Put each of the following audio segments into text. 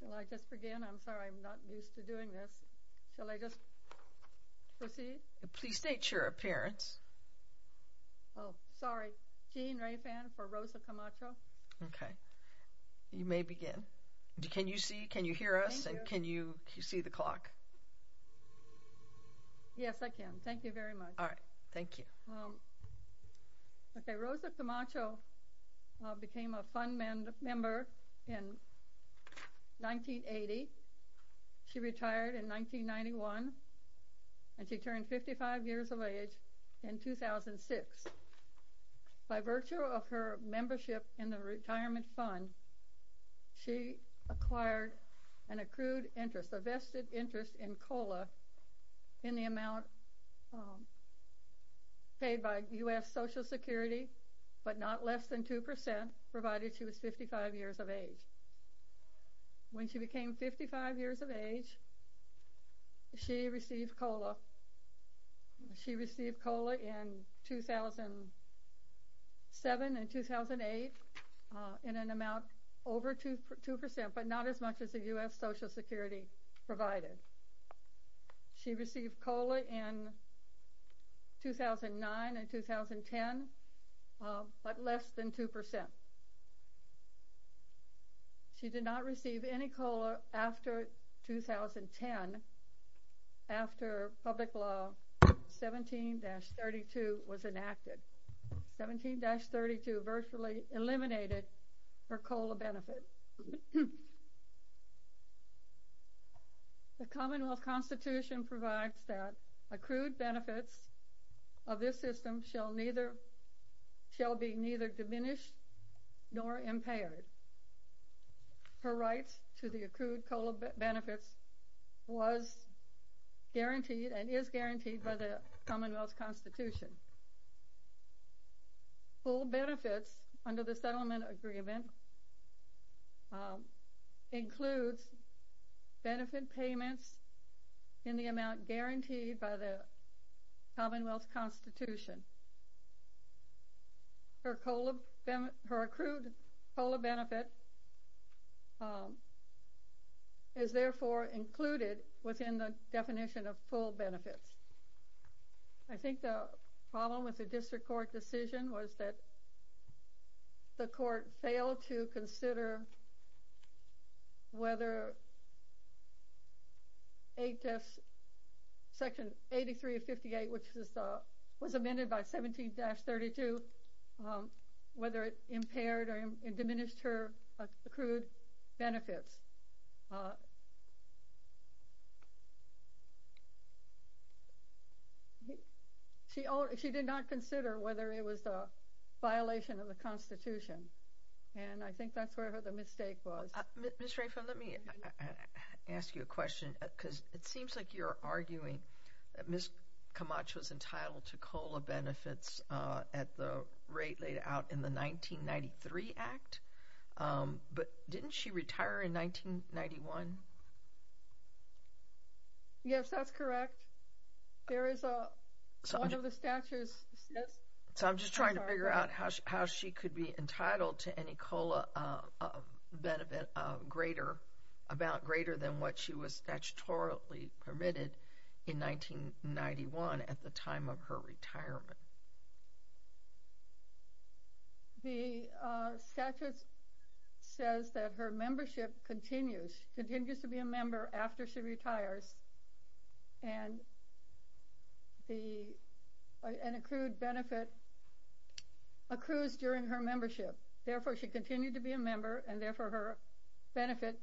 Shall I just begin? I'm sorry, I'm not used to doing this. Shall I just proceed? Please state your appearance. Oh, sorry. Jean Raifan for Rosa Camacho. Okay. You may begin. Can you see, can you hear us, and can you see the clock? Yes, I can. Thank you very much. All right. Thank you. Okay. Rosa Camacho became a fund member in 1980. She retired in 1991, and she turned 55 years of age in 2006. By virtue of her membership in the retirement fund, she acquired an accrued interest, a vested interest in COLA in the amount paid by U.S. Social Security, but not less than 2%, provided she was 55 years of age. When she became 55 years of age, she received COLA. She received COLA in 2007 and 2008 in an amount over 2%, but not as much as the U.S. Social Security provided. She received COLA in 2009 and 2010, but less than 2%. She did not receive any COLA after 2010, after public law 17-32 was enacted. 17-32 virtually eliminated her COLA benefit. The Commonwealth Constitution provides that accrued benefits of this system shall be neither diminished nor impaired. Her rights to the accrued COLA benefits was guaranteed and is guaranteed by the Commonwealth Constitution. Full benefits under the settlement agreement includes benefit payments in the amount guaranteed by the Commonwealth Constitution. Her accrued COLA benefit is therefore included within the definition of full benefits. I think the problem with the district court decision was that the court failed to consider whether Section 8358, which was amended by 17-32, whether it impaired or diminished her accrued benefits. She did not consider whether it was a violation of the Constitution, and I think that's where the mistake was. Ms. Rayford, let me ask you a question, because it seems like you're arguing that Ms. Camach was entitled to COLA benefits at the rate laid out in the 1993 Act, but didn't she retire in 1993? In 1991? Yes, that's correct. There is a—one of the statutes says— So I'm just trying to figure out how she could be entitled to any COLA benefit greater—about greater than what she was statutorily permitted in 1991 at the time of her retirement. The statute says that her membership continues— continues to be a member after she retires, and the—an accrued benefit accrues during her membership. Therefore, she continued to be a member, and therefore her benefit—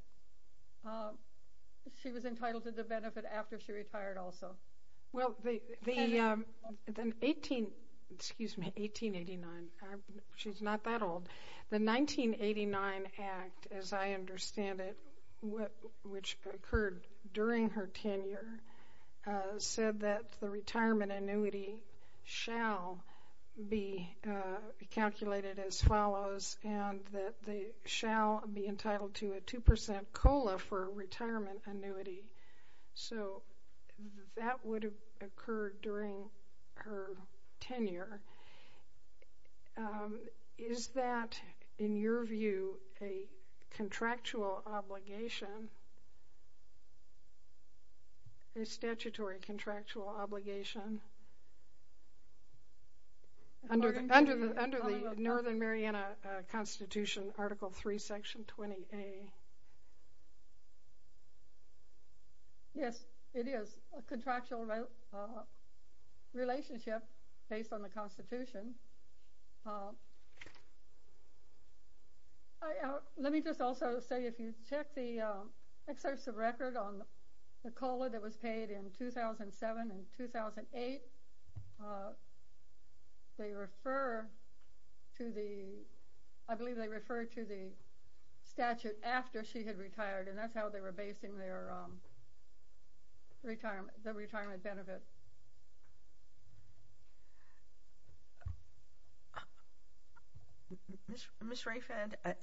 she was entitled to the benefit after she retired also. Well, the 18—excuse me, 1889. She's not that old. The 1989 Act, as I understand it, which occurred during her tenure, said that the retirement annuity shall be calculated as follows and that they shall be entitled to a 2% COLA for retirement annuity. So that would have occurred during her tenure. Is that, in your view, a contractual obligation? A statutory contractual obligation? Under the Northern Mariana Constitution, Article III, Section 20A. Yes, it is a contractual relationship based on the Constitution. Let me just also say, if you check the excerpts of record on the COLA that was paid in 2007 and 2008, they refer to the— I believe they refer to the statute after she had retired, and that's how they were basing their retirement benefits. Ms. Raifan, I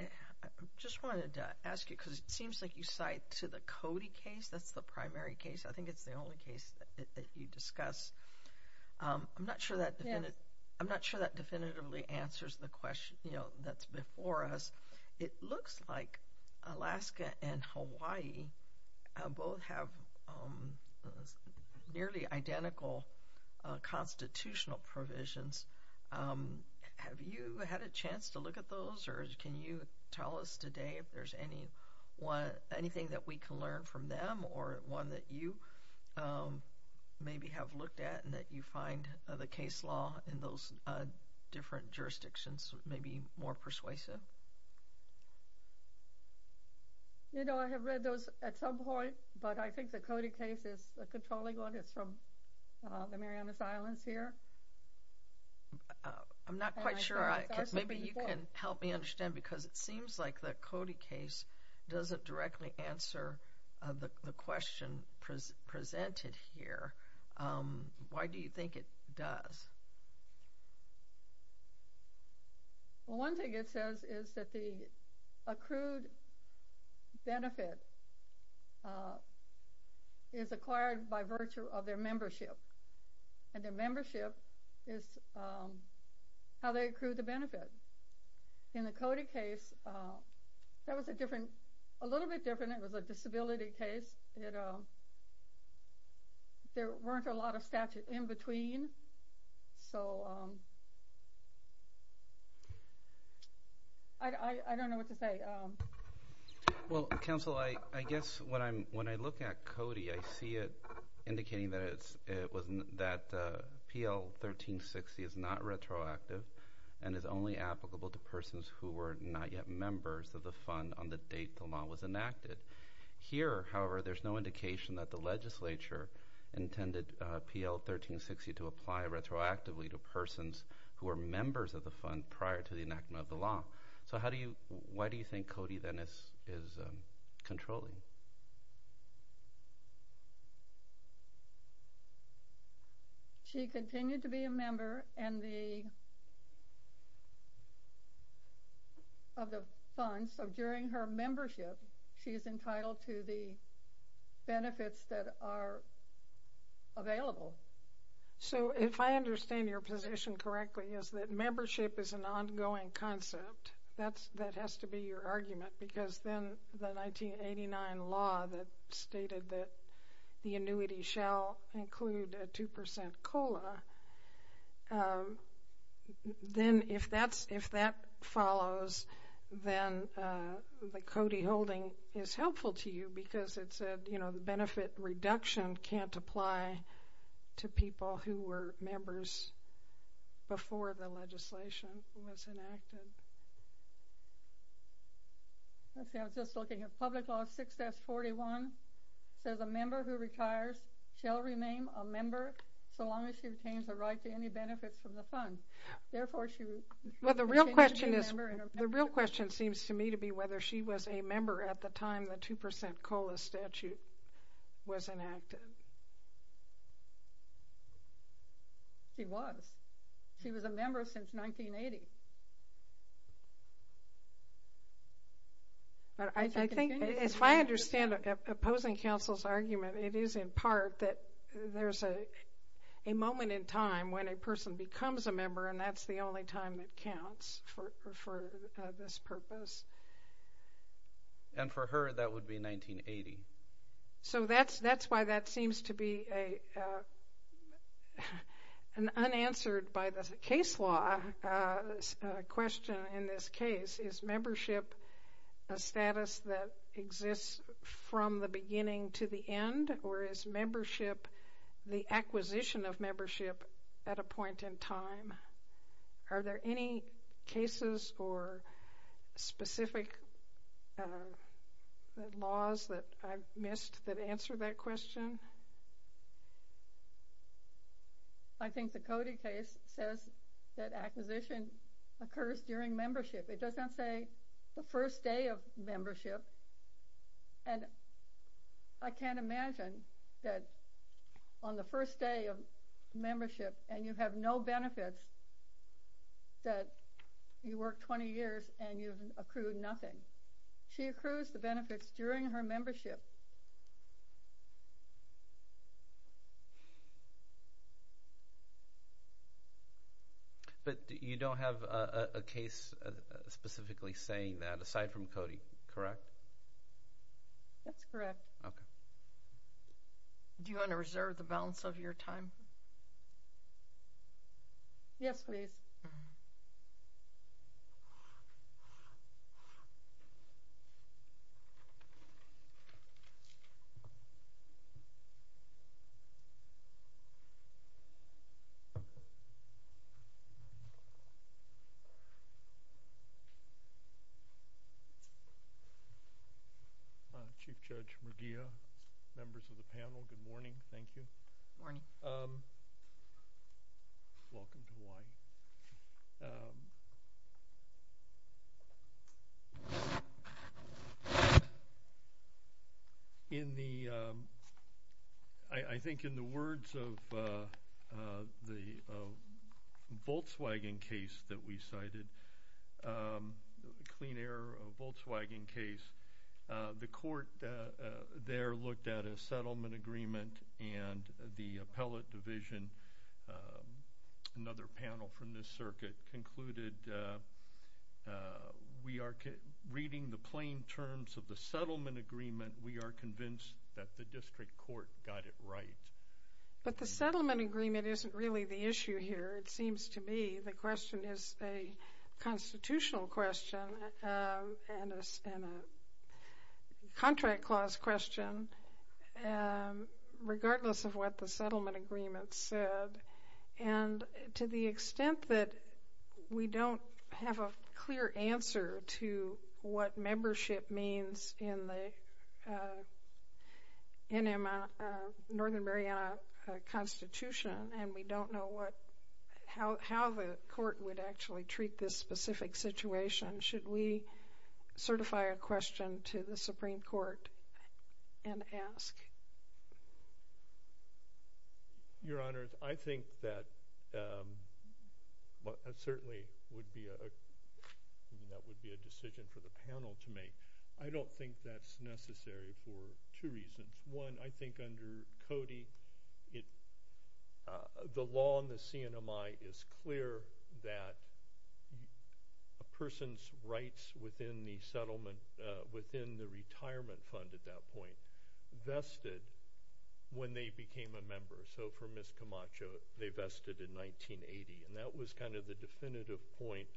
just wanted to ask you, because it seems like you cite to the Cody case, that's the primary case. I think it's the only case that you discuss. I'm not sure that definitively answers the question that's before us. It looks like Alaska and Hawaii both have nearly identical constitutional provisions. Have you had a chance to look at those, or can you tell us today if there's anything that we can learn from them, or one that you maybe have looked at and that you find the case law in those different jurisdictions maybe more persuasive? I have read those at some point, but I think the Cody case is a controlling one. It's from the Miriamis Islands here. I'm not quite sure. Maybe you can help me understand, because it seems like the Cody case doesn't directly answer the question presented here. Why do you think it does? Well, one thing it says is that the accrued benefit is acquired by virtue of their membership, and their membership is how they accrue the benefit. In the Cody case, that was a little bit different. It was a disability case. There weren't a lot of statute in between, so I don't know what to say. Well, counsel, I guess when I look at Cody, I see it indicating that PL 1360 is not retroactive and is only applicable to persons who were not yet members of the fund on the date the law was enacted. Here, however, there's no indication that the legislature intended PL 1360 to apply retroactively to persons who were members of the fund prior to the enactment of the law. So why do you think Cody, then, is controlling? She continued to be a member of the fund, so during her membership, she is entitled to the benefits that are available. So if I understand your position correctly, it's that membership is an ongoing concept. That has to be your argument, because then the 1989 law that stated that the annuity shall include a 2% COLA, then if that follows, then the Cody holding is helpful to you, because it said the benefit reduction can't apply to people who were members before the legislation was enacted. Let's see. I was just looking at Public Law 6S41. It says a member who retires shall remain a member so long as she obtains the right to any benefits from the fund. Therefore, she would be a member. Well, the real question seems to me to be whether she was a member at the time the 2% COLA statute was enacted. She was. She was a member since 1980. I think if I understand opposing counsel's argument, it is in part that there's a moment in time when a person becomes a member, and that's the only time it counts for this purpose. And for her, that would be 1980. So that's why that seems to be an unanswered by the case law question in this case. Is membership a status that exists from the beginning to the end, or is membership the acquisition of membership at a point in time? Are there any cases or specific laws that I've missed that answer that question? I think the Cody case says that acquisition occurs during membership. It doesn't say the first day of membership. And I can't imagine that on the first day of membership and you have no benefits that you worked 20 years and you've accrued nothing. She accrues the benefits during her membership. But you don't have a case specifically saying that, aside from Cody, correct? That's correct. Okay. Do you want to reserve the balance of your time? Yes, please. Good morning. Chief Judge McGeough, members of the panel, good morning. Thank you. Good morning. Welcome to Hawaii. I think in the words of the Volkswagen case that we cited, the clean air of Volkswagen case, the court there looked at a settlement agreement and the appellate division, another panel from this circuit, concluded we are reading the plain terms of the settlement agreement. We are convinced that the district court got it right. But the settlement agreement isn't really the issue here, it seems to me. The question is a constitutional question and a contract clause question regardless of what the settlement agreement said. And to the extent that we don't have a clear answer to what membership means in the Northern Mariana Constitution and we don't know how the court would actually treat this specific situation, should we certify a question to the Supreme Court and ask? Your Honor, I think that certainly that would be a decision for the panel to make. I don't think that's necessary for two reasons. One, I think under Cody, the law in the CNMI is clear that a person's rights within the retirement fund at that point vested when they became a member. So for Ms. Camacho, they vested in 1980, and that was kind of the definitive point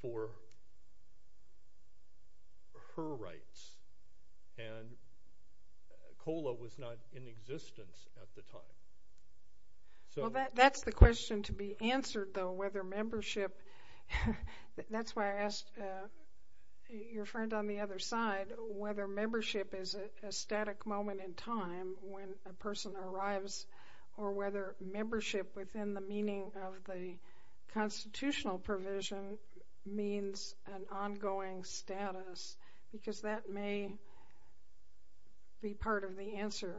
for her rights. And COLA was not in existence at the time. Well, that's the question to be answered, though, whether membership— that's why I asked your friend on the other side whether membership is a static moment in time when a person arrives or whether membership within the meaning of the constitutional provision means an ongoing status because that may be part of the answer.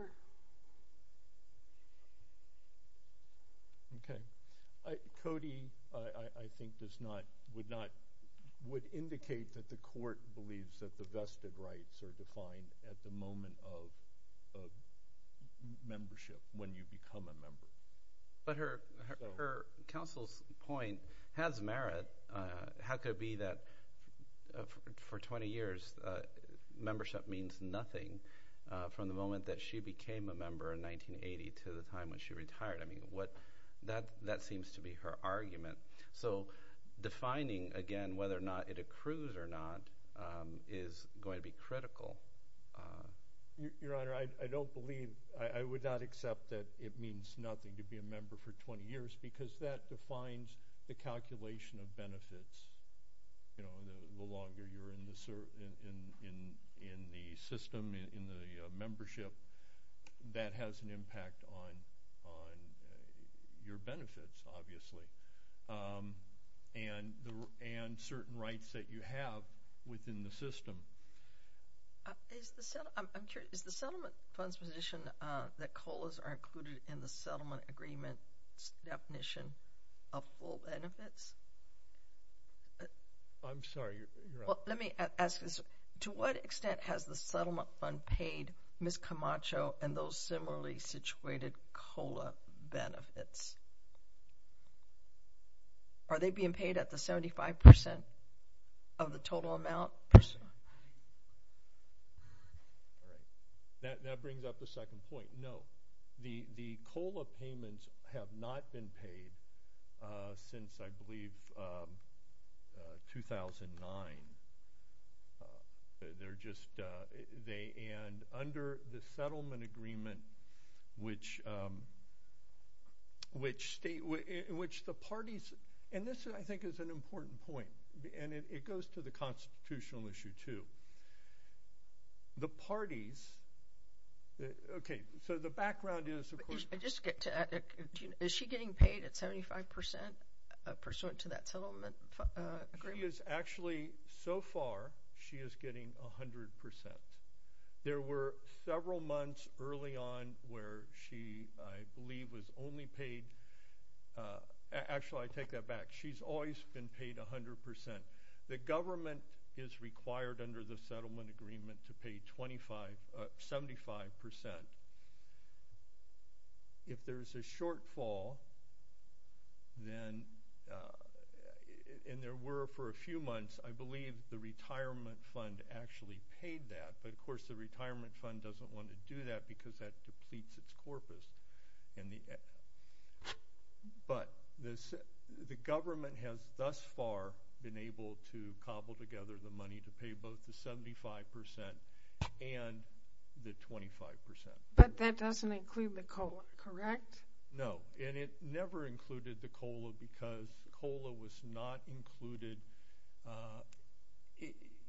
Okay. Cody, I think, would indicate that the court believes that the vested rights are defined at the moment of membership when you become a member. But her counsel's point has merit. How could it be that for 20 years membership means nothing from the moment that she became a member in 1980 to the time when she retired? I mean, that seems to be her argument. So defining, again, whether or not it accrues or not is going to be critical. Your Honor, I don't believe— I would not accept that it means nothing to be a member for 20 years because that defines the calculation of benefits. The longer you're in the system, in the membership, that has an impact on your benefits, obviously, and certain rights that you have within the system. I'm curious. Is the settlement fund's position that COLAs are included in the settlement agreement's definition of full benefits? I'm sorry, Your Honor. Well, let me ask this. To what extent has the settlement fund paid Ms. Camacho and those similarly situated COLA benefits? Are they being paid at the 75% of the total amount? That brings up a second point. No. The COLA payments have not been paid since, I believe, 2009. They're just—and under the settlement agreement, which the parties— and this, I think, is an important point, and it goes to the constitutional issue too. The parties—okay, so the background is, of course— Is she getting paid at 75% pursuant to that settlement agreement? She is actually—so far, she is getting 100%. There were several months early on where she, I believe, was only paid— actually, I take that back. She's always been paid 100%. The government is required under the settlement agreement to pay 75%. If there's a shortfall, then—and there were for a few months, I believe the retirement fund actually paid that. But, of course, the retirement fund doesn't want to do that because that depletes its corpus. But the government has thus far been able to cobble together the money to pay both the 75% and the 25%. But that doesn't include the COLA, correct? No, and it never included the COLA because COLA was not included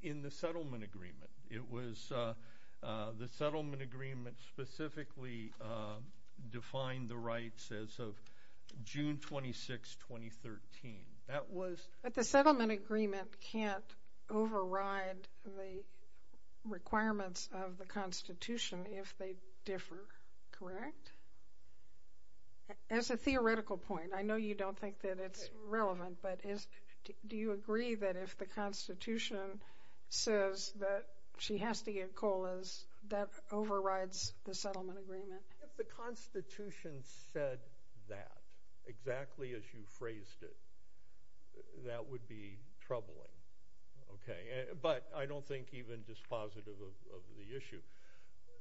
in the settlement agreement. It was—the settlement agreement specifically defined the rights as of June 26, 2013. But the settlement agreement can't override the requirements of the Constitution if they differ, correct? As a theoretical point, I know you don't think that it's relevant, but do you agree that if the Constitution says that she has to get COLAs, that overrides the settlement agreement? If the Constitution said that, exactly as you phrased it, that would be troubling. But I don't think even dispositive of the issue.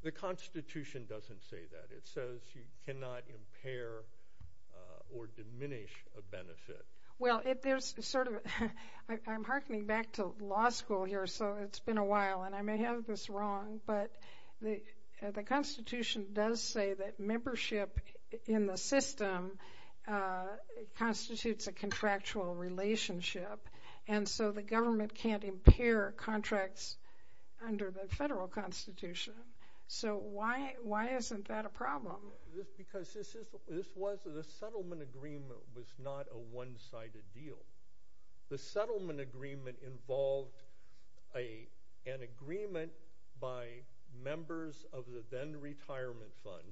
The Constitution doesn't say that. It says you cannot impair or diminish a benefit. Well, there's sort of—I'm hearkening back to law school here, so it's been a while, and I may have this wrong, but the Constitution does say that membership in the system constitutes a contractual relationship, and so the government can't impair contracts under the federal Constitution. So why isn't that a problem? Because this was—the settlement agreement was not a one-sided deal. The settlement agreement involved an agreement by members of the then-retirement fund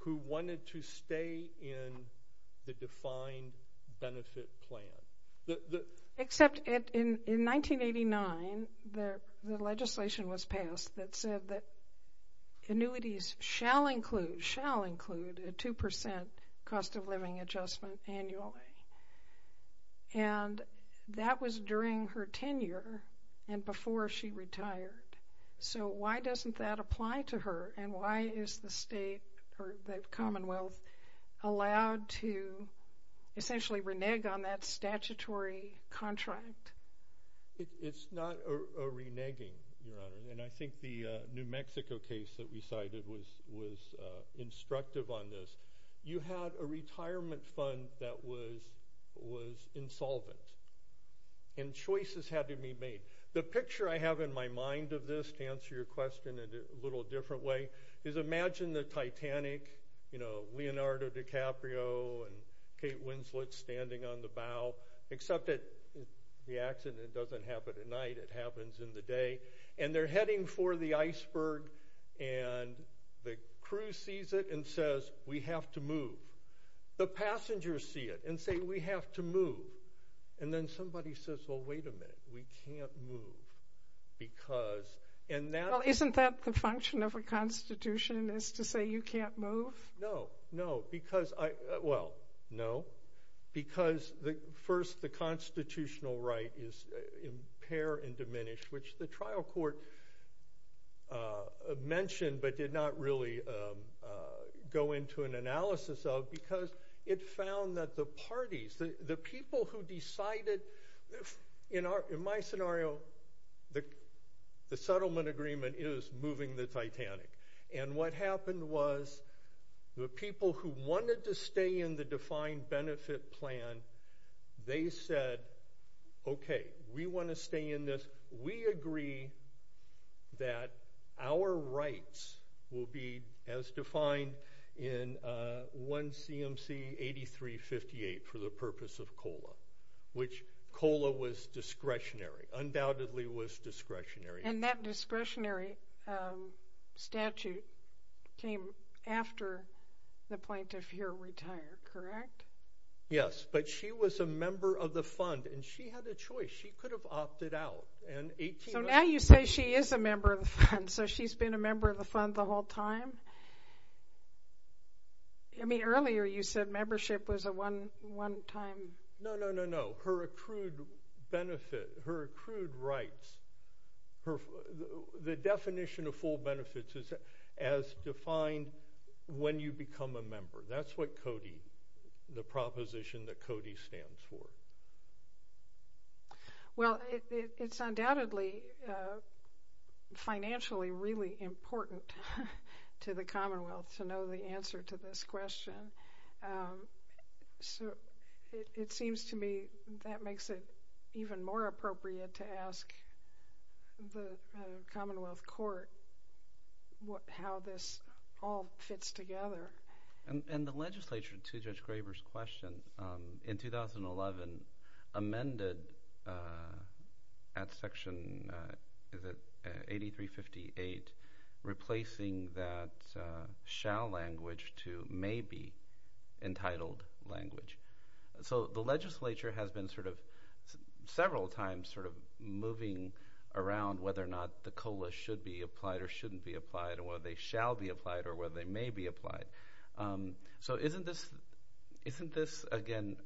who wanted to stay in the defined benefit plan. Except in 1989, the legislation was passed that said that annuities shall include a 2% cost-of-living adjustment annually, and that was during her tenure and before she retired. So why doesn't that apply to her, and why is the Commonwealth allowed to essentially renege on that statutory contract? It's not a reneging, Your Honor, and I think the New Mexico case that we cited was instructive on this. You had a retirement fund that was insolvent, and choices had to be made. The picture I have in my mind of this, to answer your question in a little different way, is imagine the Titanic, you know, Leonardo DiCaprio and Kate Winslet standing on the bow, except that the accident doesn't happen at night, it happens in the day, and they're heading for the iceberg, and the crew sees it and says, we have to move. The passengers see it and say, we have to move. And then somebody says, well, wait a minute, we can't move because— Well, isn't that the function of a constitution is to say you can't move? No, no, because—well, no, because first the constitutional right is impair and diminish, which the trial court mentioned but did not really go into an analysis of, because it found that the parties, the people who decided— in my scenario, the settlement agreement is moving the Titanic. And what happened was the people who wanted to stay in the defined benefit plan, they said, okay, we want to stay in this. We agree that our rights will be as defined in 1 C.M.C. 8358 for the purpose of COLA, which COLA was discretionary, undoubtedly was discretionary. And that discretionary statute came after the plaintiff here retired, correct? Yes, but she was a member of the fund, and she had a choice. She could have opted out. So now you say she is a member of the fund, so she's been a member of the fund the whole time? I mean, earlier you said membership was a one-time— No, no, no, no, her accrued benefit, her accrued rights, the definition of full benefits is as defined when you become a member. That's what Cody—the proposition that Cody stands for. Well, it's undoubtedly financially really important to the Commonwealth to know the answer to this question. So it seems to me that makes it even more appropriate to ask the Commonwealth Court how this all fits together. And the legislature, to Judge Graber's question, in 2011 amended at Section 8358 replacing that shall language to maybe entitled language. So the legislature has been sort of several times sort of moving around whether or not the COLA should be applied or shouldn't be applied or whether they shall be applied or whether they may be applied. So isn't this, again,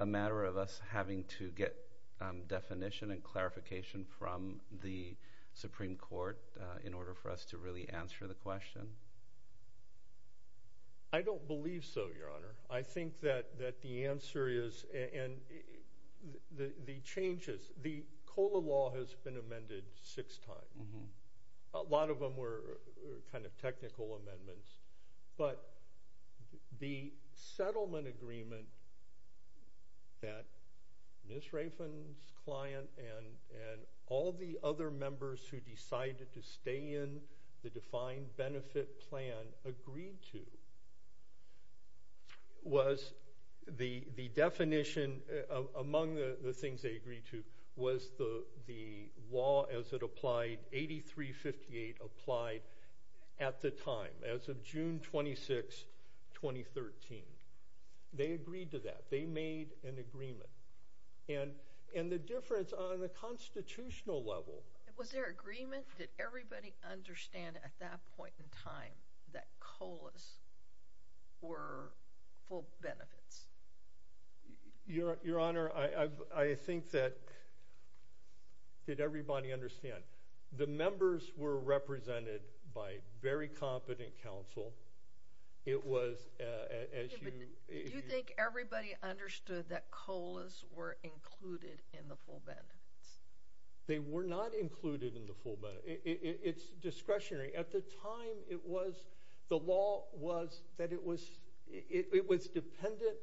a matter of us having to get definition and clarification from the Supreme Court in order for us to really answer the question? I don't believe so, Your Honor. I think that the answer is—and the changes—the COLA law has been amended six times. A lot of them were kind of technical amendments. But the settlement agreement that Ms. Rafen's client and all the other members who decided to stay in the defined benefit plan agreed to was the definition— among the things they agreed to was the law as it applied, 8358 applied at the time, as of June 26, 2013. They agreed to that. They made an agreement. And the difference on the constitutional level— Was there agreement? Did everybody understand at that point in time that COLAs were full benefits? Your Honor, I think that—did everybody understand? The members were represented by very competent counsel. It was as you— Do you think everybody understood that COLAs were included in the full benefits? They were not included in the full benefits. It's discretionary. At the time, it was—the law was that it was dependent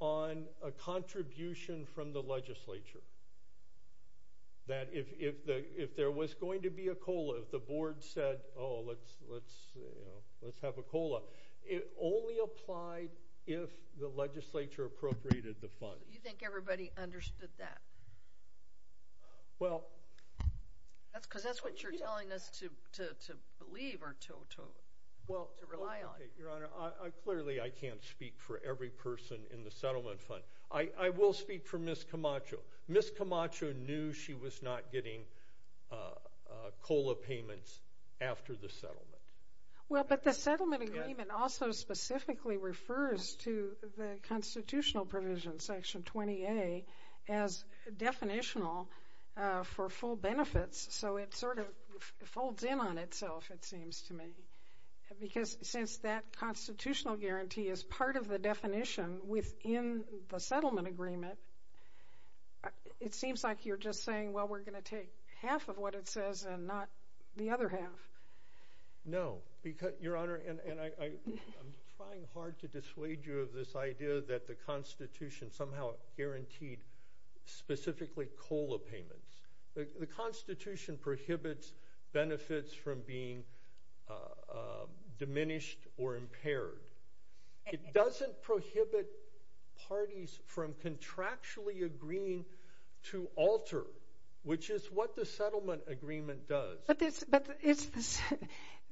on a contribution from the legislature. That if there was going to be a COLA, if the board said, oh, let's have a COLA, it only applied if the legislature appropriated the funds. Do you think everybody understood that? Well— Because that's what you're telling us to believe or to rely on. Your Honor, clearly I can't speak for every person in the settlement fund. I will speak for Ms. Camacho. Ms. Camacho knew she was not getting COLA payments after the settlement. Well, but the settlement agreement also specifically refers to the constitutional provision, Section 20A, as definitional for full benefits, so it sort of folds in on itself, it seems to me. Because since that constitutional guarantee is part of the definition within the settlement agreement, it seems like you're just saying, well, we're going to take half of what it says and not the other half. No. Your Honor, and I'm trying hard to dissuade you of this idea that the Constitution somehow guaranteed specifically COLA payments. The Constitution prohibits benefits from being diminished or impaired. It doesn't prohibit parties from contractually agreeing to alter, which is what the settlement agreement does. But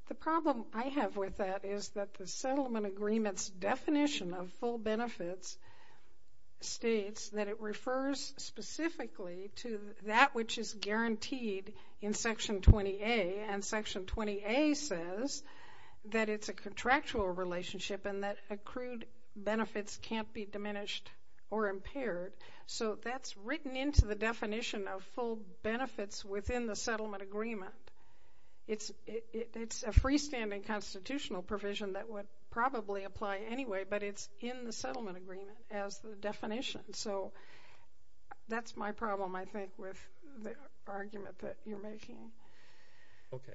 the problem I have with that is that the settlement agreement's definition of full benefits states that it refers specifically to that which is guaranteed in Section 20A, and Section 20A says that it's a contractual relationship and that accrued benefits can't be diminished or impaired. So that's written into the definition of full benefits within the settlement agreement. It's a freestanding constitutional provision that would probably apply anyway, but it's in the settlement agreement as the definition. So that's my problem, I think, with the argument that you're making. Okay.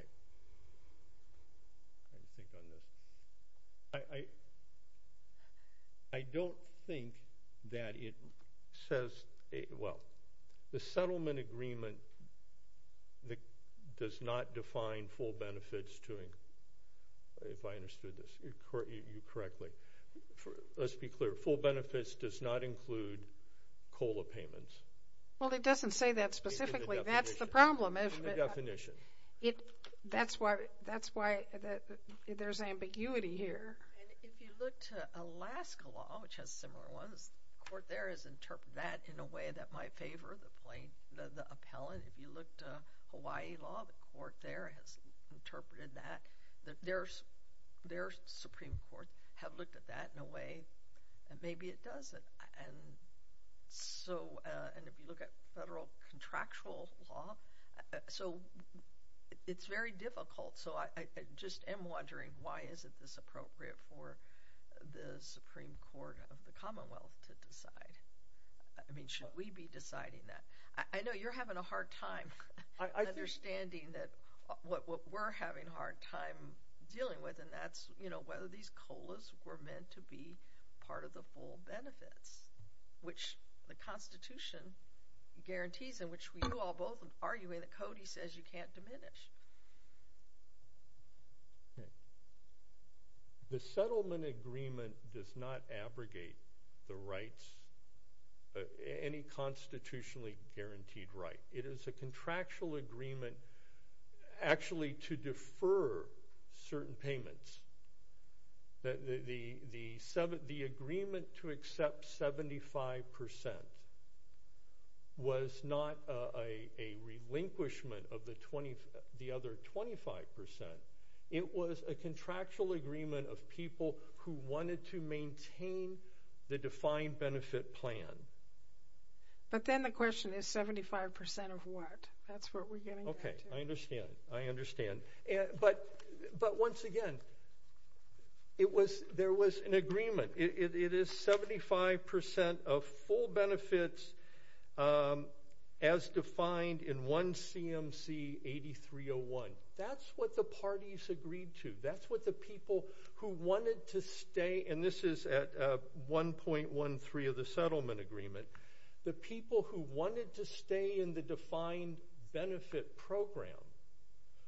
I don't think that it says – well, the settlement agreement does not define full benefits to – if I understood you correctly. Let's be clear. Full benefits does not include COLA payments. Well, it doesn't say that specifically. That's the problem. In the definition. That's why there's ambiguity here. And if you look to Alaska law, which has similar ones, the court there has interpreted that in a way that might favor the plaintiff, the appellant. If you look to Hawaii law, the court there has interpreted that. Their Supreme Court have looked at that in a way that maybe it doesn't. And so – and if you look at federal contractual law, so it's very difficult. So I just am wondering why is it this appropriate for the Supreme Court of the Commonwealth to decide? I mean, should we be deciding that? I know you're having a hard time understanding what we're having a hard time dealing with, and that's whether these COLAs were meant to be part of the full benefits, which the Constitution guarantees and which you all both are arguing that Cody says you can't diminish. The settlement agreement does not abrogate the rights – any constitutionally guaranteed right. It is a contractual agreement actually to defer certain payments. The agreement to accept 75% was not a relinquishment of the other 25%. It was a contractual agreement of people who wanted to maintain the defined benefit plan. But then the question is 75% of what? That's what we're getting back to. Okay, I understand. I understand. But once again, it was – there was an agreement. It is 75% of full benefits as defined in 1 C.M.C. 8301. That's what the parties agreed to. That's what the people who wanted to stay – and this is at 1.13 of the settlement agreement. The people who wanted to stay in the defined benefit program,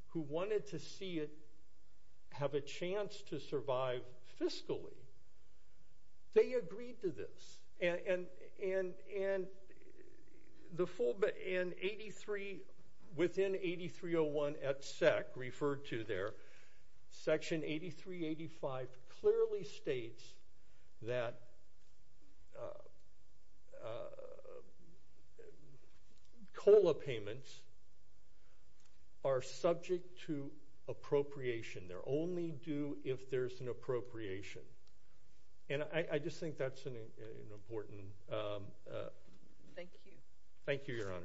who wanted to see it have a chance to survive fiscally, they agreed to this. And the full – and 83 – within 8301 at SEC referred to there, Section 8385 clearly states that COLA payments are subject to appropriation. They're only due if there's an appropriation. And I just think that's an important – Thank you. Thank you, Your Honors.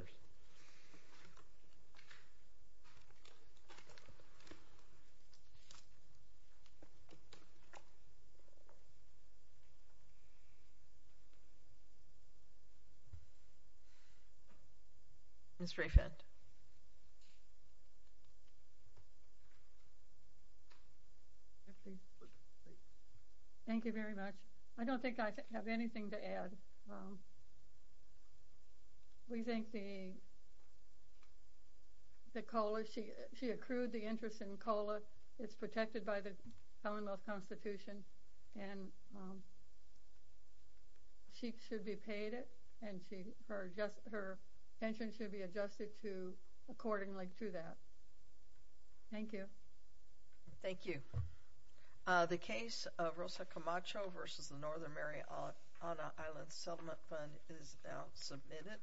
Mr. Effend? Thank you very much. I don't think I have anything to add. We think the COLA – she accrued the interest in COLA. It's protected by the Commonwealth Constitution. And she should be paid it, and her pension should be adjusted to – accordingly to that. Thank you. Thank you. The case of Rosa Camacho v. the Northern Mariana Islands Settlement Fund is now submitted.